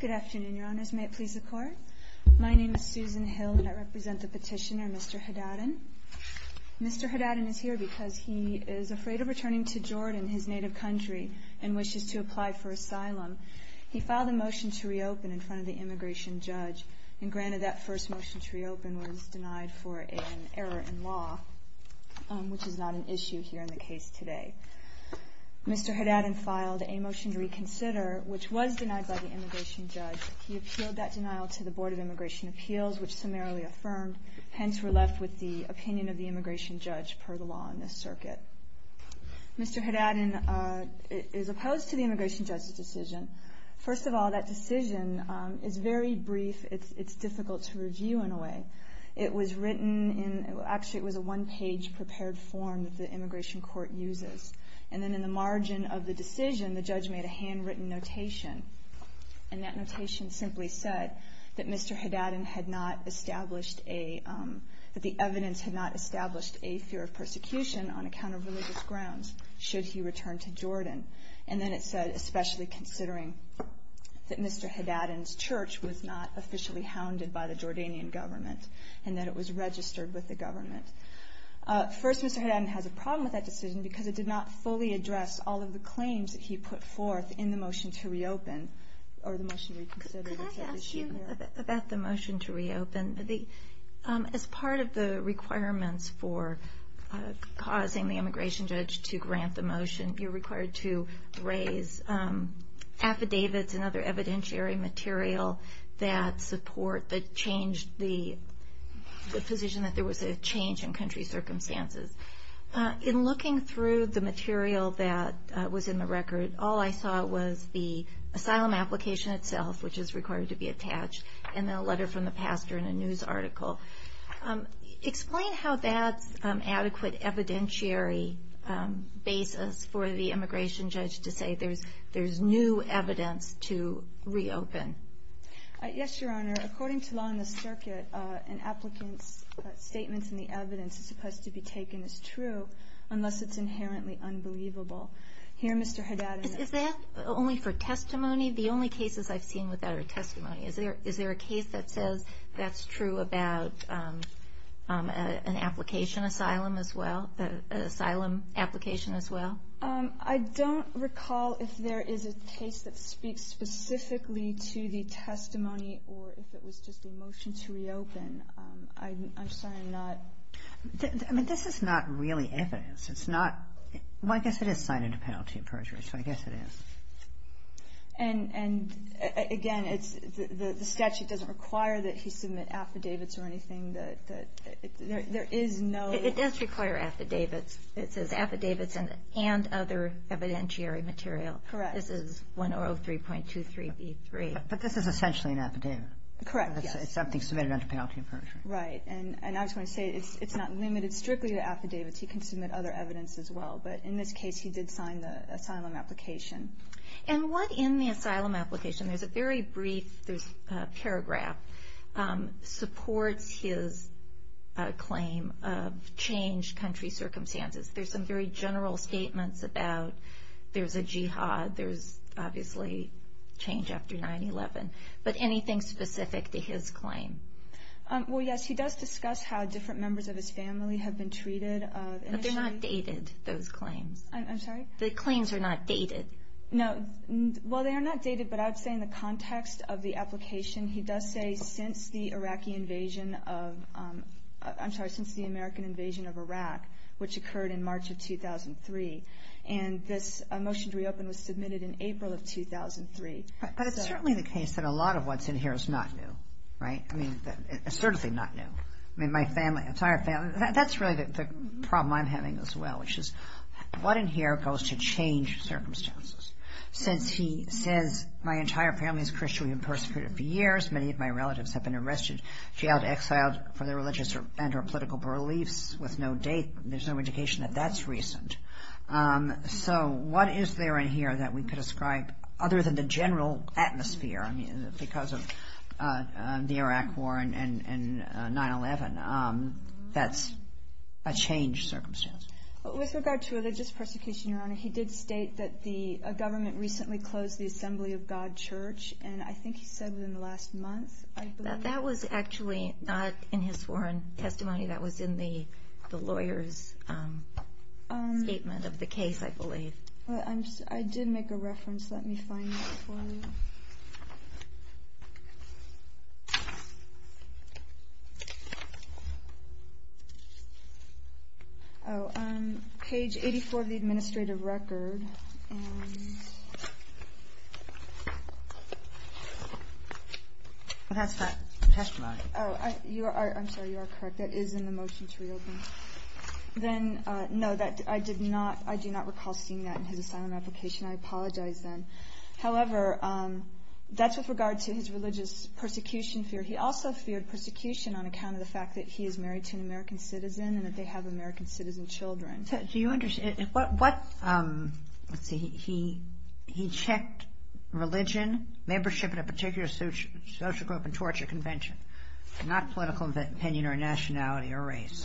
Good afternoon, your honors. May it please the court. My name is Susan Hill and I represent the petitioner, Mr. Haddadin. Mr. Haddadin is here because he is afraid of returning to Jordan, his native country, and wishes to apply for asylum. He filed a motion to reopen in front of the immigration judge, and granted that first motion to reopen was denied for an error in law, which is not an issue here in the case today. Mr. Haddadin filed a motion to reconsider, which was denied by the immigration judge. He appealed that denial to the Board of Immigration Appeals, which summarily affirmed. Hence, we're left with the opinion of the immigration judge per the law in this circuit. Mr. Haddadin is opposed to the immigration judge's decision. First of all, that decision is very brief. It's difficult to review in a way. It was written in, actually it was a one-page prepared form that the immigration court uses. And then in the margin of the decision, the judge made a handwritten notation. And that notation simply said that Mr. Haddadin had not established a, that the evidence had not established a fear of persecution on account of religious grounds, should he return to Jordan. And then it said, especially considering that Mr. Haddadin's church was not officially hounded by the Jordanian government, and that it was registered with the government. First, Mr. Haddadin has a problem with that decision, because it did not fully address all of the claims that he put forth in the motion to reopen, or the motion to reconsider. Could I ask you about the motion to reopen? As part of the requirements for causing the immigration judge to grant the motion, you're required to raise affidavits and other evidentiary material that support the change, the position that there was a change in country circumstances. In looking through the material that was in the record, all I saw was the asylum application itself, which is required to be attached, and then a letter from the pastor and a news article. Explain how that's adequate evidentiary basis for the immigration judge to say there's new evidence to reopen. Yes, Your Honor. According to law in the circuit, an applicant's statements and the evidence is supposed to be taken as true, unless it's inherently unbelievable. Here, Mr. Haddadin- Is that only for testimony? The only cases I've seen with that are testimony. Is there a case that says that's true about an application asylum as well, an asylum application as well? I don't recall if there is a case that speaks specifically to the testimony, or if it was just a motion to reopen. I'm sorry, I'm not- I mean, this is not really evidence. It's not- well, I guess it is signed into penalty and perjury, so I guess it is. And again, the statute doesn't require that he submit affidavits or anything. There is no- It does require affidavits. It says affidavits and other evidentiary material. Correct. This is 103.23B3. But this is essentially an affidavit. Correct, yes. It's something submitted under penalty and perjury. Right. And I was going to say, it's not limited strictly to affidavits. He can submit other evidence as well. But in this case, he did sign the asylum application. And what in the asylum application- there's a very brief- there's a paragraph- supports his claim of changed country circumstances. There's some very general statements about there's a jihad, there's obviously change after 9-11. But anything specific to his claim? Well, yes, he does discuss how different members of his family have been treated. But they're not dated, those claims. I'm sorry? The claims are not dated. No. Well, they are not dated, but I would say in the context of the application, he does say since the Iraqi invasion of- I'm sorry, since the American invasion of Iraq, which occurred in March of 2003. And this motion to reopen was submitted in April of 2003. But it's certainly the case that a lot of what's in here is not new, right? I mean, it's certainly not new. I mean, my family, entire family- that's really the problem I'm having as well, which is what in here goes to change circumstances? Since he says, my entire family is Christian. We've been persecuted for years. Many of my relatives have been arrested, jailed, exiled for their religious and or political beliefs with no date. There's no indication that that's recent. So what is there in here that we could ascribe other than the general atmosphere? I mean, because of the Iraq War and 9-11, that's a changed circumstance. With regard to religious persecution, Your Honor, he did state that a government recently closed the Assembly of God Church. And I think he said within the last month, I believe. That was actually not in his sworn testimony. That was in the lawyer's statement of the case, I believe. I did make a reference. Let me find that for you. Oh, page 84 of the administrative record. And that's that testimony. Oh, I'm sorry. You are correct. That is in the motion to reopen. Then, no, I do not recall seeing that in his assignment application. I apologize then. However, that's with regard to his religious persecution fear. He also feared persecution on account of the fact that he is married to an American citizen and that they have American citizen children. Do you understand? He checked religion, membership in a particular social group and torture convention, not political opinion or nationality or race.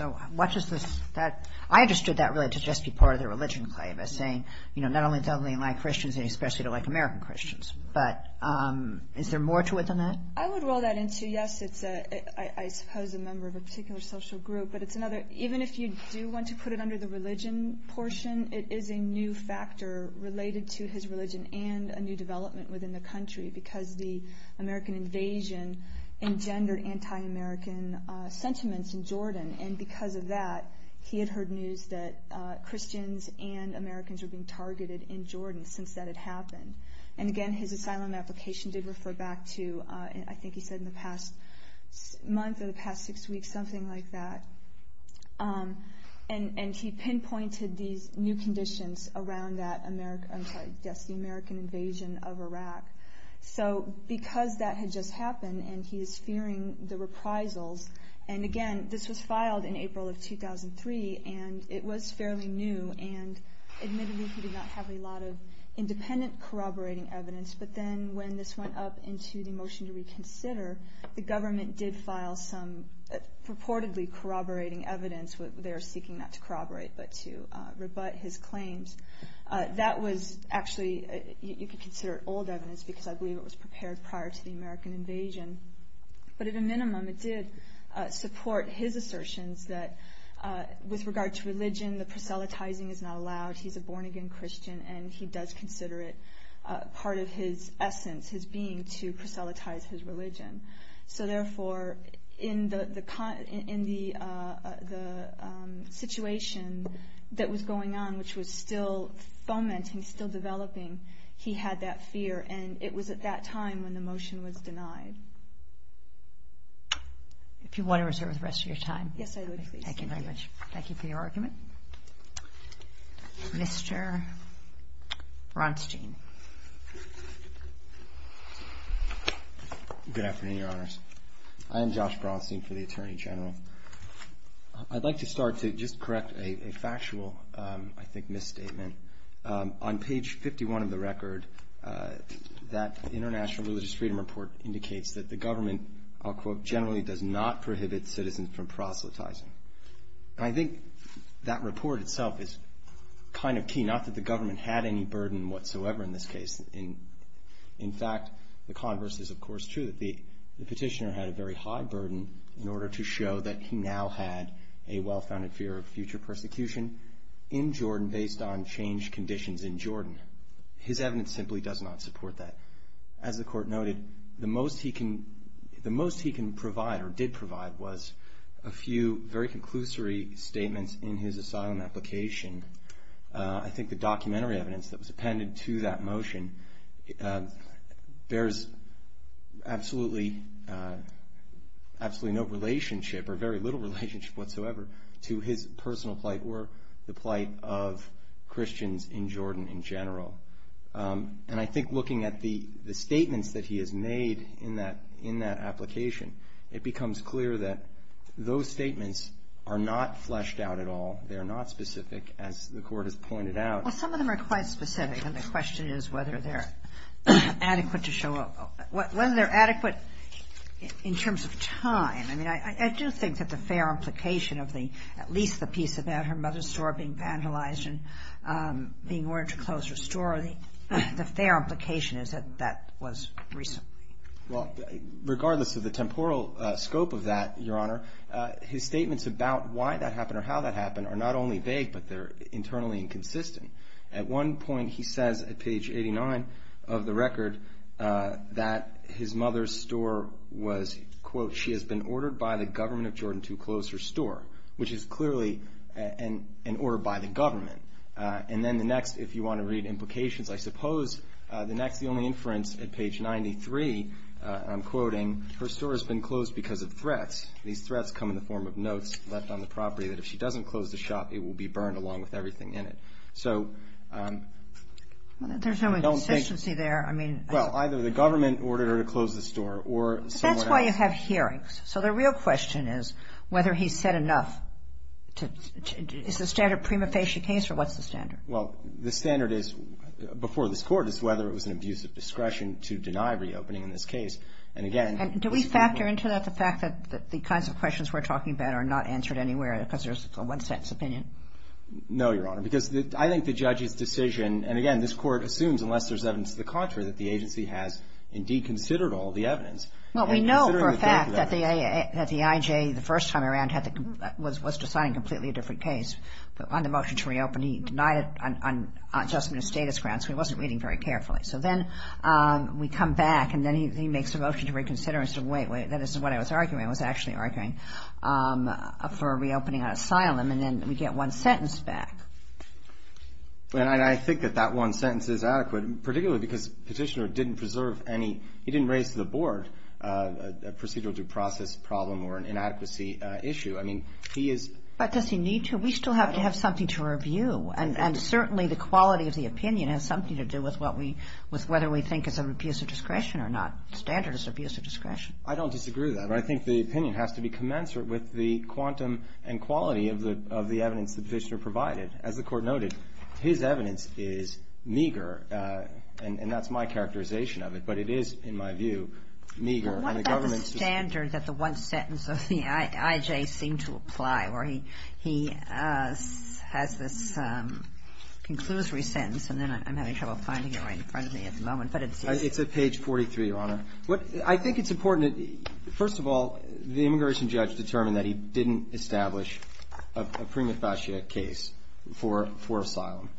I understood that really to just be part of the religion claim as saying not only do they like Christians, they especially don't like American Christians. But is there more to it than that? I would roll that in, too. Yes, I suppose a member of a particular social group. But even if you do want to put it under the religion portion, it is a new factor related to his religion and a new development within the country because the American invasion engendered anti-American sentiments in Jordan. Because of that, he had heard news that Christians and Americans were being targeted in Jordan since that had happened. Again, his asylum application did refer back to, I think he said in the past month or the past six weeks, something like that. He pinpointed these new conditions around the American invasion of Iraq. Because that had just happened and he is fearing the reprisals. Again, this was filed in April of 2003 and it was fairly new. Admittedly, he did not have a lot of independent corroborating evidence. But then when this went up into the motion to reconsider, the government did file some purportedly corroborating evidence. They are seeking not to corroborate but to rebut his claims. That was actually, you could consider it old evidence because I believe it was prepared prior to the American invasion. But at a minimum, it did support his assertions that with regard to religion, the proselytizing is not allowed. He is a born-again Christian and he does consider it part of his essence, his being, to proselytize his religion. Therefore, in the situation that was going on, which was still fomenting, still developing, he had that fear. And it was at that time when the motion was denied. If you want to reserve the rest of your time. Yes, I would, please. Thank you very much. Thank you for your argument. Mr. Bronstein. Good afternoon, Your Honors. I am Josh Bronstein for the Attorney General. I'd like to start to just correct a factual, I think, misstatement. On page 51 of the record, that International Religious Freedom Report indicates that the government, I'll quote, generally does not prohibit citizens from proselytizing. And I think that report itself is kind of key. Not that the government had any burden whatsoever in this case. In fact, the converse is, of course, true. The petitioner had a very high burden in order to show that he now had a well-founded fear of future persecution in Jordan based on changed conditions in Jordan. His evidence simply does not support that. As the Court noted, the most he can provide, or did provide, was a few very conclusory statements in his asylum application. I think the documentary evidence that was appended to that motion bears absolutely no relationship or very little relationship whatsoever to his personal plight or the plight of Christians in Jordan in general. And I think looking at the statements that he has made in that application, it becomes clear that those statements are not fleshed out at all. They are not specific, as the Court has pointed out. Well, some of them are quite specific. And the question is whether they're adequate to show up. Whether they're adequate in terms of time. I mean, I do think that the fair implication of at least the piece about her mother's store being vandalized and being ordered to close her store, the fair implication is that that was recent. Well, regardless of the temporal scope of that, Your Honor, his statements about why that happened or how that happened are not only vague, but they're internally inconsistent. At one point he says at page 89 of the record that his mother's store was, quote, she has been ordered by the government of Jordan to close her store, which is clearly an order by the government. And then the next, if you want to read implications, I suppose the next, the only inference at page 93, I'm quoting, her store has been closed because of threats. These threats come in the form of notes left on the property that if she doesn't close the shop, it will be burned along with everything in it. So I don't think. Well, there's no inconsistency there. I mean. Well, either the government ordered her to close the store or someone else. But that's why you have hearings. So the real question is whether he said enough to, is the standard prima facie case or what's the standard? Well, the standard is, before this Court, is whether it was an abuse of discretion to deny reopening in this case. And again. And do we factor into that the fact that the kinds of questions we're talking about are not answered anywhere because there's a one-sense opinion? No, Your Honor, because I think the judge's decision, and again, this Court assumes unless there's evidence to the contrary, that the agency has indeed considered all the evidence. Well, we know for a fact that the IJ the first time around was deciding a completely different case. But on the motion to reopen, he denied it on adjustment of status grounds. So he wasn't reading very carefully. So then we come back, and then he makes a motion to reconsider. He said, wait, wait, that isn't what I was arguing. I was actually arguing for reopening on asylum. And then we get one sentence back. And I think that that one sentence is adequate, particularly because Petitioner didn't preserve any, he didn't raise to the Board a procedural due process problem or an inadequacy issue. I mean, he is. But does he need to? We still have to have something to review. And certainly the quality of the opinion has something to do with what we, with whether we think it's an abuse of discretion or not. The standard is abuse of discretion. I don't disagree with that. But I think the opinion has to be commensurate with the quantum and quality of the, of the evidence that Petitioner provided. As the Court noted, his evidence is meager. And that's my characterization of it. But it is, in my view, meager. And the government's just. Well, what about the standard that the one sentence of the IJ seemed to apply, where he has this conclusory sentence, and then I'm having trouble finding it right in front of me at the moment. But it's. It's at page 43, Your Honor. What, I think it's important that, first of all, the immigration judge determined that he didn't establish a prima facie case for, for asylum,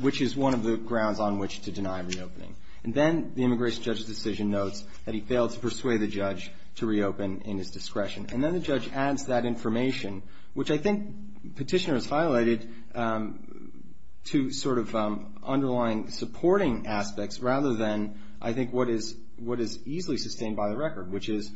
which is one of the grounds on which to deny reopening. And then the immigration judge's decision notes that he failed to persuade the judge to reopen in his discretion. And then the judge adds that information, which I think Petitioner has highlighted, to sort of underlying supporting aspects rather than, I think, what is, what is easily sustained by the record, which is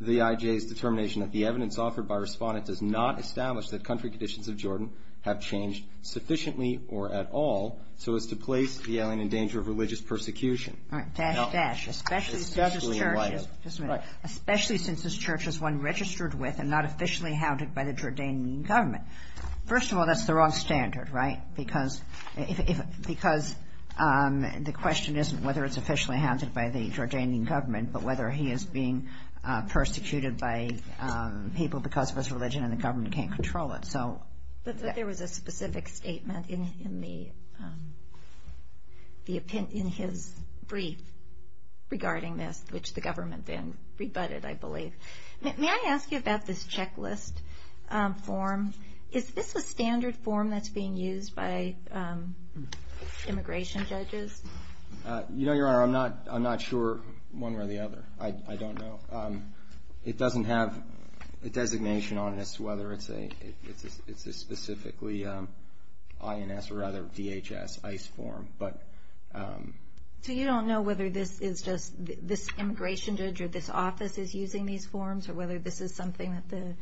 the IJ's determination that the evidence offered by Respondent does not establish that country conditions of Jordan have changed sufficiently or at all so as to place the alien in danger of religious persecution. All right. Dash, dash. Especially since this church is. It's definitely in light. Just a minute. Right. Especially since this church is one registered with and not officially hounded by the Jordanian government. First of all, that's the wrong standard, right? Because, because the question isn't whether it's officially hounded by the Jordanian government, but whether he is being persecuted by people because of his religion and the government can't control it. So. But there was a specific statement in, in the, the, in his brief regarding this, which the government then rebutted, I believe. May I ask you about this checklist form? Is this a standard form that's being used by immigration judges? You know, Your Honor, I'm not, I'm not sure one way or the other. I don't know. It doesn't have a designation on it as to whether it's a, it's a, it's a specifically INS or other DHS ICE form, but. So you don't know whether this is just this immigration judge or this office is using these forms or whether this is something that the,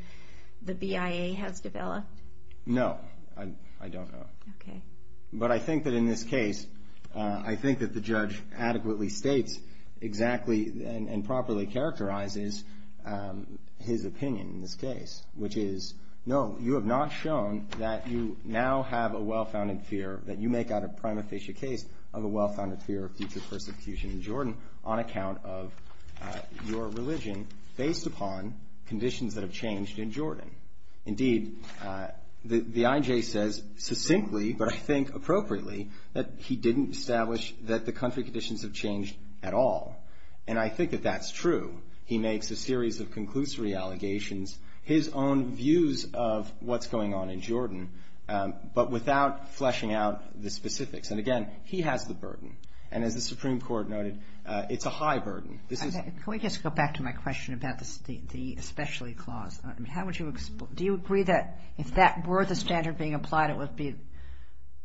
the BIA has developed? No, I don't know. Okay. But I think that in this case, I think that the judge adequately states exactly and properly characterizes his opinion in this case, which is, no, you have not shown that you now have a well-founded fear that you make out a prima facie case of a well-founded fear of future persecution in Jordan on account of your religion, based upon conditions that have changed in Jordan. Indeed, the IJ says succinctly, but I think appropriately, that he didn't establish that the country conditions have changed at all. And I think that that's true. He makes a series of conclusory allegations, his own views of what's going on in Jordan, but without fleshing out the specifics. And again, he has the burden. And as the Supreme Court noted, it's a high burden. Can we just go back to my question about the especially clause? How would you, do you agree that if that were the standard being applied, it would be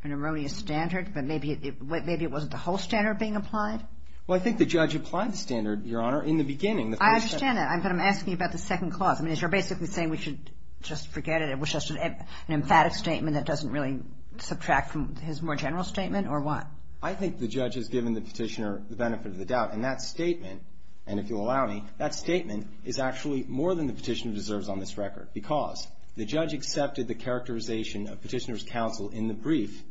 an erroneous standard, but maybe it wasn't the whole standard being applied? Well, I think the judge applied the standard, Your Honor, in the beginning. I understand that, but I'm asking you about the second clause. I mean, as you're basically saying we should just forget it, which is an emphatic statement that doesn't really subtract from his more general statement, or what? I think the judge has given the petitioner the benefit of the doubt. And that statement, and if you'll allow me, that statement is actually more than the petitioner deserves on this record, because the judge accepted the characterization of petitioner's counsel in the brief,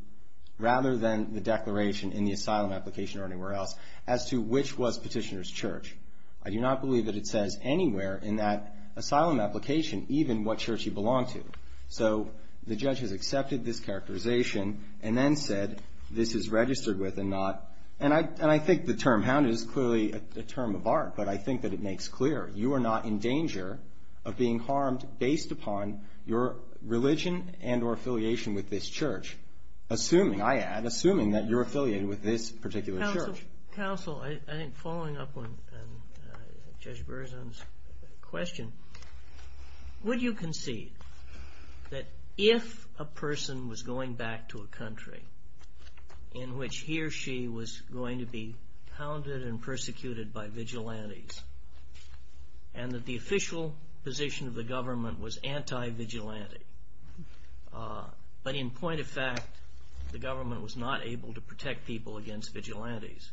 rather than the declaration in the asylum application or anywhere else, as to which was petitioner's church. I do not believe that it says anywhere in that asylum application even what church he belonged to. So the judge has accepted this characterization and then said this is registered with and not. And I think the term hounded is clearly a term of art, but I think that it makes clear you are not in danger of being harmed based upon your religion and or affiliation with this church, assuming, I add, assuming that you're affiliated with this particular church. Counsel, I think following up on Judge Berzon's question, would you concede that if a person was going back to a country in which he or she was going to be hounded and persecuted by vigilantes, and that the official position of the government was anti-vigilante, but in point of fact the government was not able to protect people against vigilantes,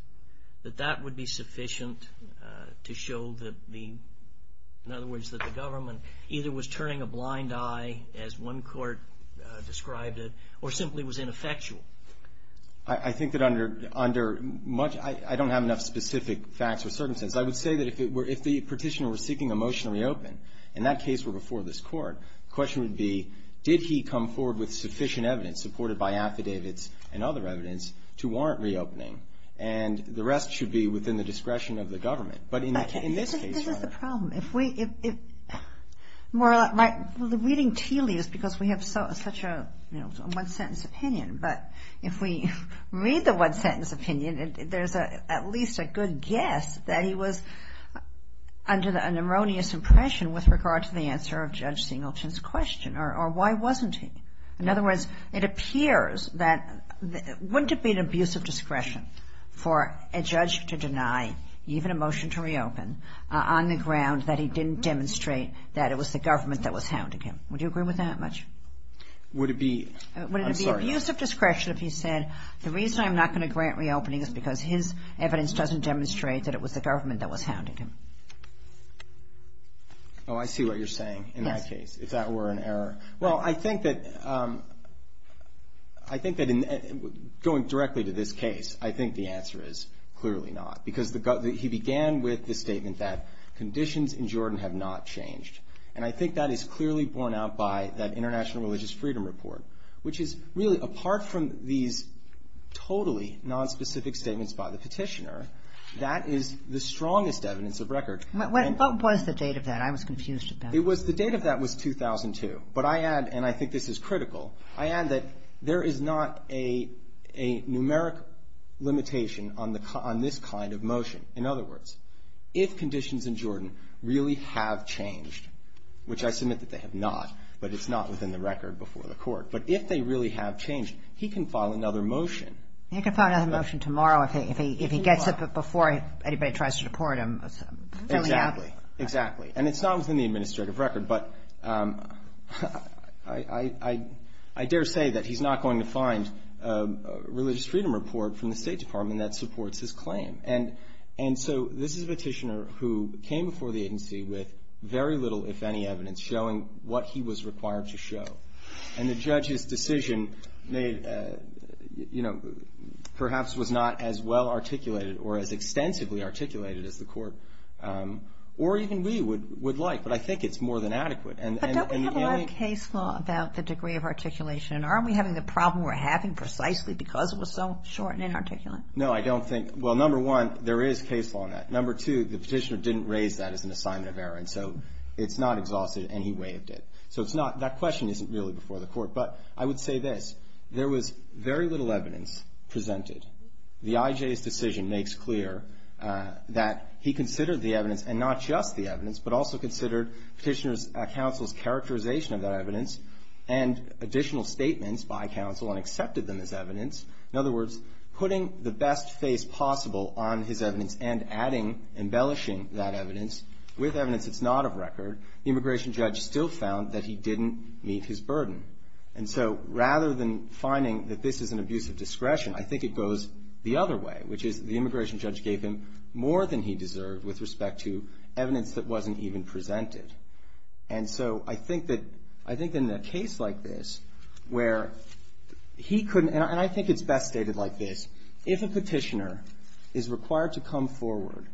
that that would be sufficient to show that the, in other words, that the government either was turning a blind eye, as one court described it, or simply was ineffectual? I think that under much, I don't have enough specific facts or certainties. I would say that if the petitioner was seeking a motion to reopen, and that case were before this court, the question would be, did he come forward with sufficient evidence, supported by affidavits and other evidence, to warrant reopening? And the rest should be within the discretion of the government. But in this case, rather. This is the problem. If we, more or less, well, the reading teely is because we have such a one-sentence opinion, but if we read the one-sentence opinion, there's at least a good guess that he was under an erroneous impression with regard to the answer of Judge Singleton's question, or why wasn't he? In other words, it appears that, wouldn't it be an abuse of discretion for a judge to deny even a motion to reopen on the ground that he didn't demonstrate that it was the government that was hounding him? Would you agree with that much? Would it be, I'm sorry. Would it be abuse of discretion if he said, the reason I'm not going to grant reopening is because his evidence doesn't demonstrate that it was the government that was hounding him? Oh, I see what you're saying in that case. Yes. If that were an error. Well, I think that going directly to this case, I think the answer is clearly not. Because he began with the statement that conditions in Jordan have not changed. And I think that is clearly borne out by that International Religious Freedom Report, which is really, apart from these totally nonspecific statements by the petitioner, that is the strongest evidence of record. What was the date of that? I was confused about that. The date of that was 2002. But I add, and I think this is critical, I add that there is not a numeric limitation on this kind of motion. In other words, if conditions in Jordan really have changed, which I submit that they have not, but it's not within the record before the Court, but if they really have changed, he can file another motion. He can file another motion tomorrow if he gets it before anybody tries to deport him. Exactly. Exactly. And it's not within the administrative record. But I dare say that he's not going to find a religious freedom report from the State Department that supports his claim. And so this is a petitioner who came before the agency with very little, if any, evidence showing what he was required to show. And the judge's decision made, you know, perhaps was not as well articulated or as extensively articulated as the Court or even we would like. But I think it's more than adequate. But don't we have a lot of case law about the degree of articulation? And aren't we having the problem we're having precisely because it was so short and inarticulate? No, I don't think. Well, number one, there is case law on that. Number two, the petitioner didn't raise that as an assignment of error. And so it's not exhausted, and he waived it. So it's not, that question isn't really before the Court. But I would say this. There was very little evidence presented. The IJ's decision makes clear that he considered the evidence, and not just the evidence, but also considered petitioner's counsel's characterization of that evidence and additional statements by counsel and accepted them as evidence. In other words, putting the best face possible on his evidence and adding, embellishing that evidence with evidence that's not of record, the immigration judge still found that he didn't meet his burden. And so rather than finding that this is an abuse of discretion, I think it goes the other way, which is the immigration judge gave him more than he deserved with respect to evidence that wasn't even presented. And so I think that in a case like this, where he couldn't, and I think it's best stated like this, if a petitioner is required to come forward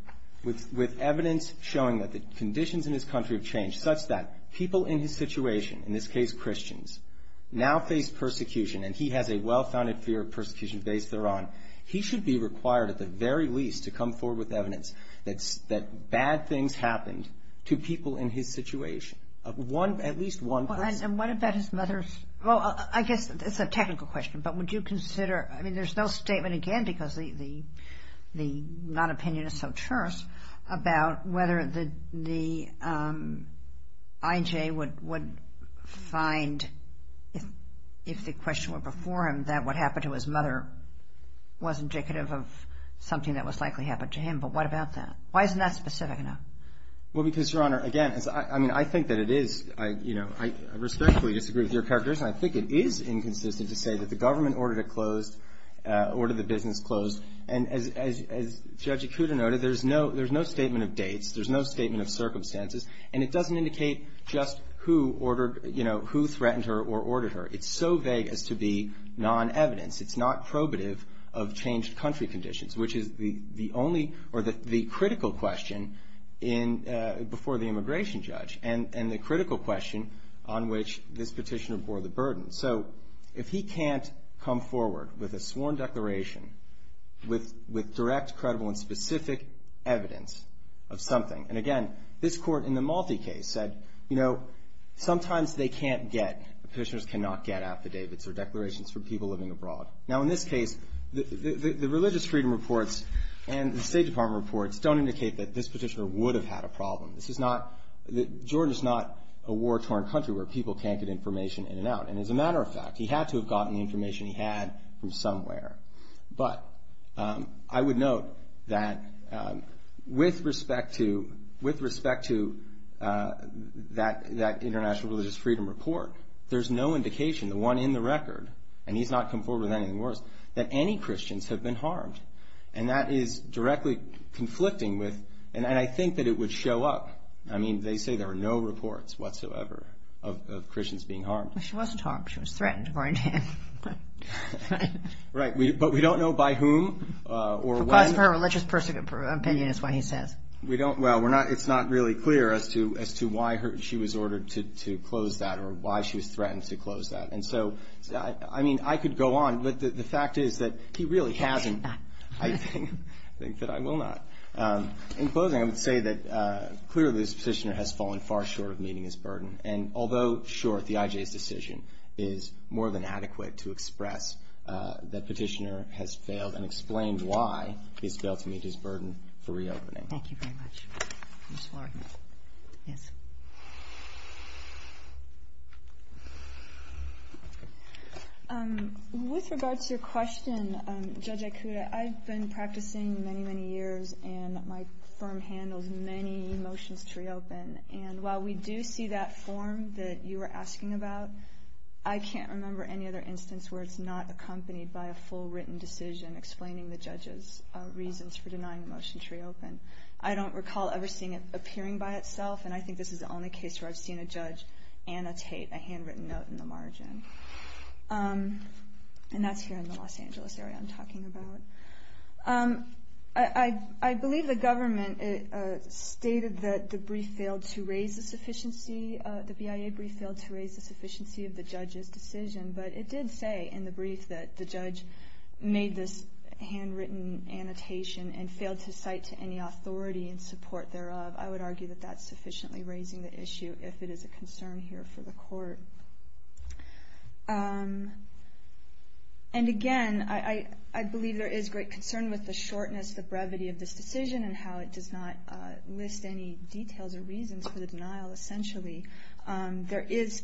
with evidence showing that the conditions in his country have changed such that people in his situation, in this case Christians, now face persecution and he has a well-founded fear of persecution based thereon, he should be required at the very least to come forward with evidence that bad things happened to people in his situation. At least one person. And what about his mother's? Well, I guess it's a technical question. But would you consider, I mean, there's no statement again because the non-opinion is so terse about whether the IJ would find, if the question were before him, that what happened to his mother was indicative of something that was likely happened to him. But what about that? Why isn't that specific enough? Well, because, Your Honor, again, I mean, I think that it is, you know, I respectfully disagree with your character, and I think it is inconsistent to say that the government ordered it closed, ordered the business closed. And as Judge Ikuda noted, there's no statement of dates. There's no statement of circumstances. And it doesn't indicate just who ordered, you know, who threatened her or ordered her. It's so vague as to be non-evidence. It's not probative of changed country conditions, which is the only or the critical question before the immigration judge and the critical question on which this petitioner bore the burden. So if he can't come forward with a sworn declaration with direct, credible, and specific evidence of something, and again, this court in the Malte case said, you know, sometimes they can't get, petitioners cannot get affidavits or declarations from people living abroad. Now, in this case, the religious freedom reports and the State Department reports don't indicate that this petitioner would have had a problem. This is not, Georgia is not a war-torn country where people can't get information in and out. And as a matter of fact, he had to have gotten the information he had from somewhere. But I would note that with respect to that international religious freedom report, there's no indication, the one in the record, and he's not come forward with anything worse, that any Christians have been harmed. And that is directly conflicting with, and I think that it would show up. I mean, they say there are no reports whatsoever of Christians being harmed. Well, she wasn't harmed. She was threatened, according to him. Right. But we don't know by whom or when. Because of her religious opinion is what he says. We don't, well, we're not, it's not really clear as to why she was ordered to close that or why she was threatened to close that. And so, I mean, I could go on, but the fact is that he really hasn't. I think that I will not. In closing, I would say that clearly this petitioner has fallen far short of meeting his burden. And although, sure, the IJ's decision is more than adequate to express that petitioner has failed and explained why he's failed to meet his burden for reopening. Thank you very much. Ms. Lawrence. Yes. With regard to your question, Judge Ikuda, I've been practicing many, many years, and my firm handles many motions to reopen. And while we do see that form that you were asking about, I can't remember any other instance where it's not accompanied by a full written decision explaining the judge's reasons for denying the motion to reopen. I don't recall ever seeing it appearing by itself, and I think this is the only case where I've seen a judge annotate a handwritten note in the margin. And that's here in the Los Angeles area I'm talking about. I believe the government stated that the brief failed to raise the sufficiency of the judge's decision, but it did say in the brief that the judge made this handwritten annotation and failed to cite to any authority and support thereof. I would argue that that's sufficiently raising the issue if it is a concern here for the court. And again, I believe there is great concern with the shortness, the brevity of this decision and how it does not list any details or reasons for the denial, essentially. There is,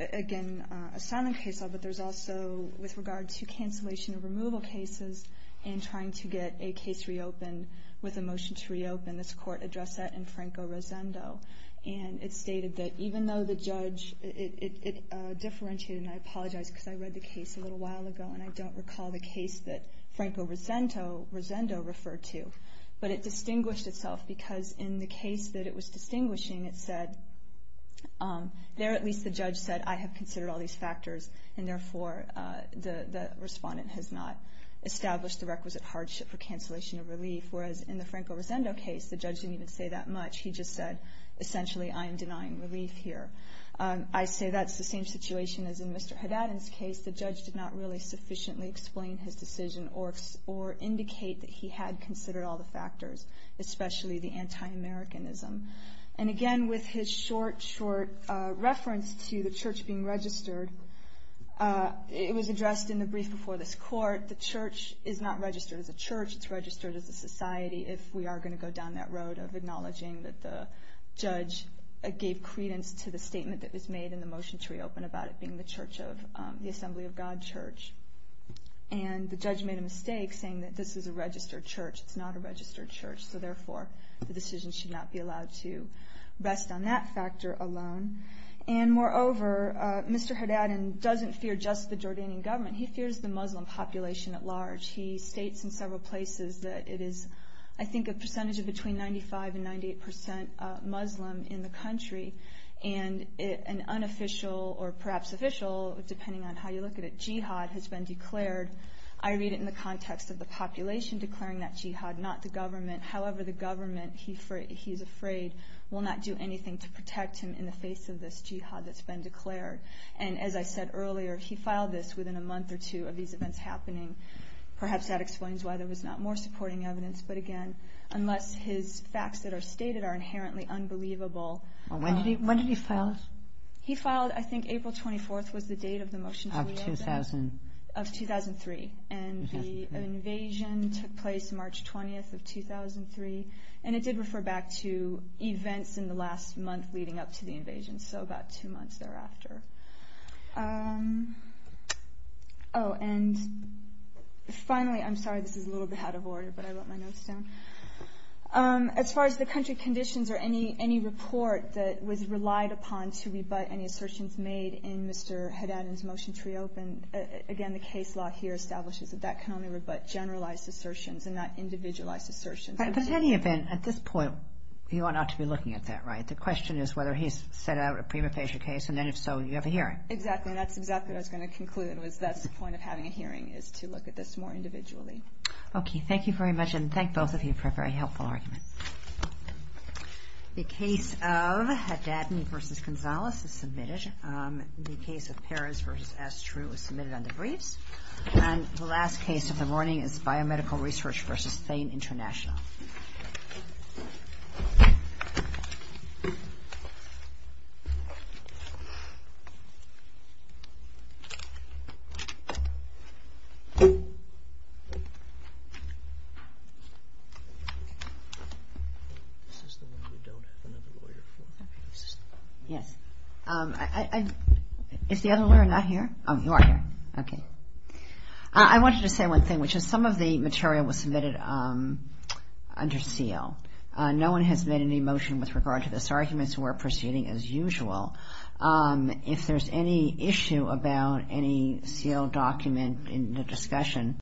again, a silent case law, but there's also, with regard to cancellation of removal cases and trying to get a case reopened with a motion to reopen, this court addressed that in Franco Rosendo. And it stated that even though the judge, it differentiated, and I apologize because I read the case a little while ago, and I don't recall the case that Franco Rosendo referred to, but it distinguished itself because in the case that it was distinguishing, it said, there at least the judge said, I have considered all these factors, and therefore the respondent has not established the requisite hardship for cancellation of relief. Whereas in the Franco Rosendo case, the judge didn't even say that much. He just said, essentially, I am denying relief here. I say that's the same situation as in Mr. Haddad's case. The judge did not really sufficiently explain his decision or indicate that he had considered all the factors, especially the anti-Americanism. And again, with his short, short reference to the church being registered, it was addressed in the brief before this court. The church is not registered as a church. It's registered as a society, if we are going to go down that road of acknowledging that the judge gave credence to the statement that was made in the motion to reopen about it being the Assembly of God Church. And the judge made a mistake saying that this is a registered church. It's not a registered church. So therefore, the decision should not be allowed to rest on that factor alone. And moreover, Mr. Haddad doesn't fear just the Jordanian government. He fears the Muslim population at large. He states in several places that it is, I think, a percentage of between 95% and 98% Muslim in the country. And an unofficial or perhaps official, depending on how you look at it, jihad has been declared. I read it in the context of the population declaring that jihad, not the government. However, the government, he is afraid, will not do anything to protect him in the face of this jihad that's been declared. And as I said earlier, he filed this within a month or two of these events happening. Perhaps that explains why there was not more supporting evidence. But again, unless his facts that are stated are inherently unbelievable. When did he file it? He filed, I think, April 24th was the date of the motion to reopen. Of 2000. Of 2003. And the invasion took place March 20th of 2003. And it did refer back to events in the last month leading up to the invasion. So about two months thereafter. Oh, and finally, I'm sorry, this is a little bit out of order, but I wrote my notes down. As far as the country conditions or any report that was relied upon to rebut any assertions made in Mr. Haddad and his motion to reopen, again, the case law here establishes that that can only rebut generalized assertions and not individualized assertions. But in any event, at this point, you are not to be looking at that, right? The question is whether he's set out a prima facie case, and then if so, you have a hearing. Exactly. And that's exactly what I was going to conclude. That's the point of having a hearing, is to look at this more individually. Okay. Thank you very much, and thank both of you for a very helpful argument. The case of Haddad v. Gonzales is submitted. The case of Perez v. Estrue is submitted under briefs. And the last case of the morning is Biomedical Research v. Thane International. This is the one we don't have another lawyer for. Yes. Is the other lawyer not here? Oh, you are here. Okay. I wanted to say one thing, which is some of the material was submitted under seal. No one has made any motion with regard to this argument, so we're proceeding as usual. If there's any issue about any sealed document in the discussion,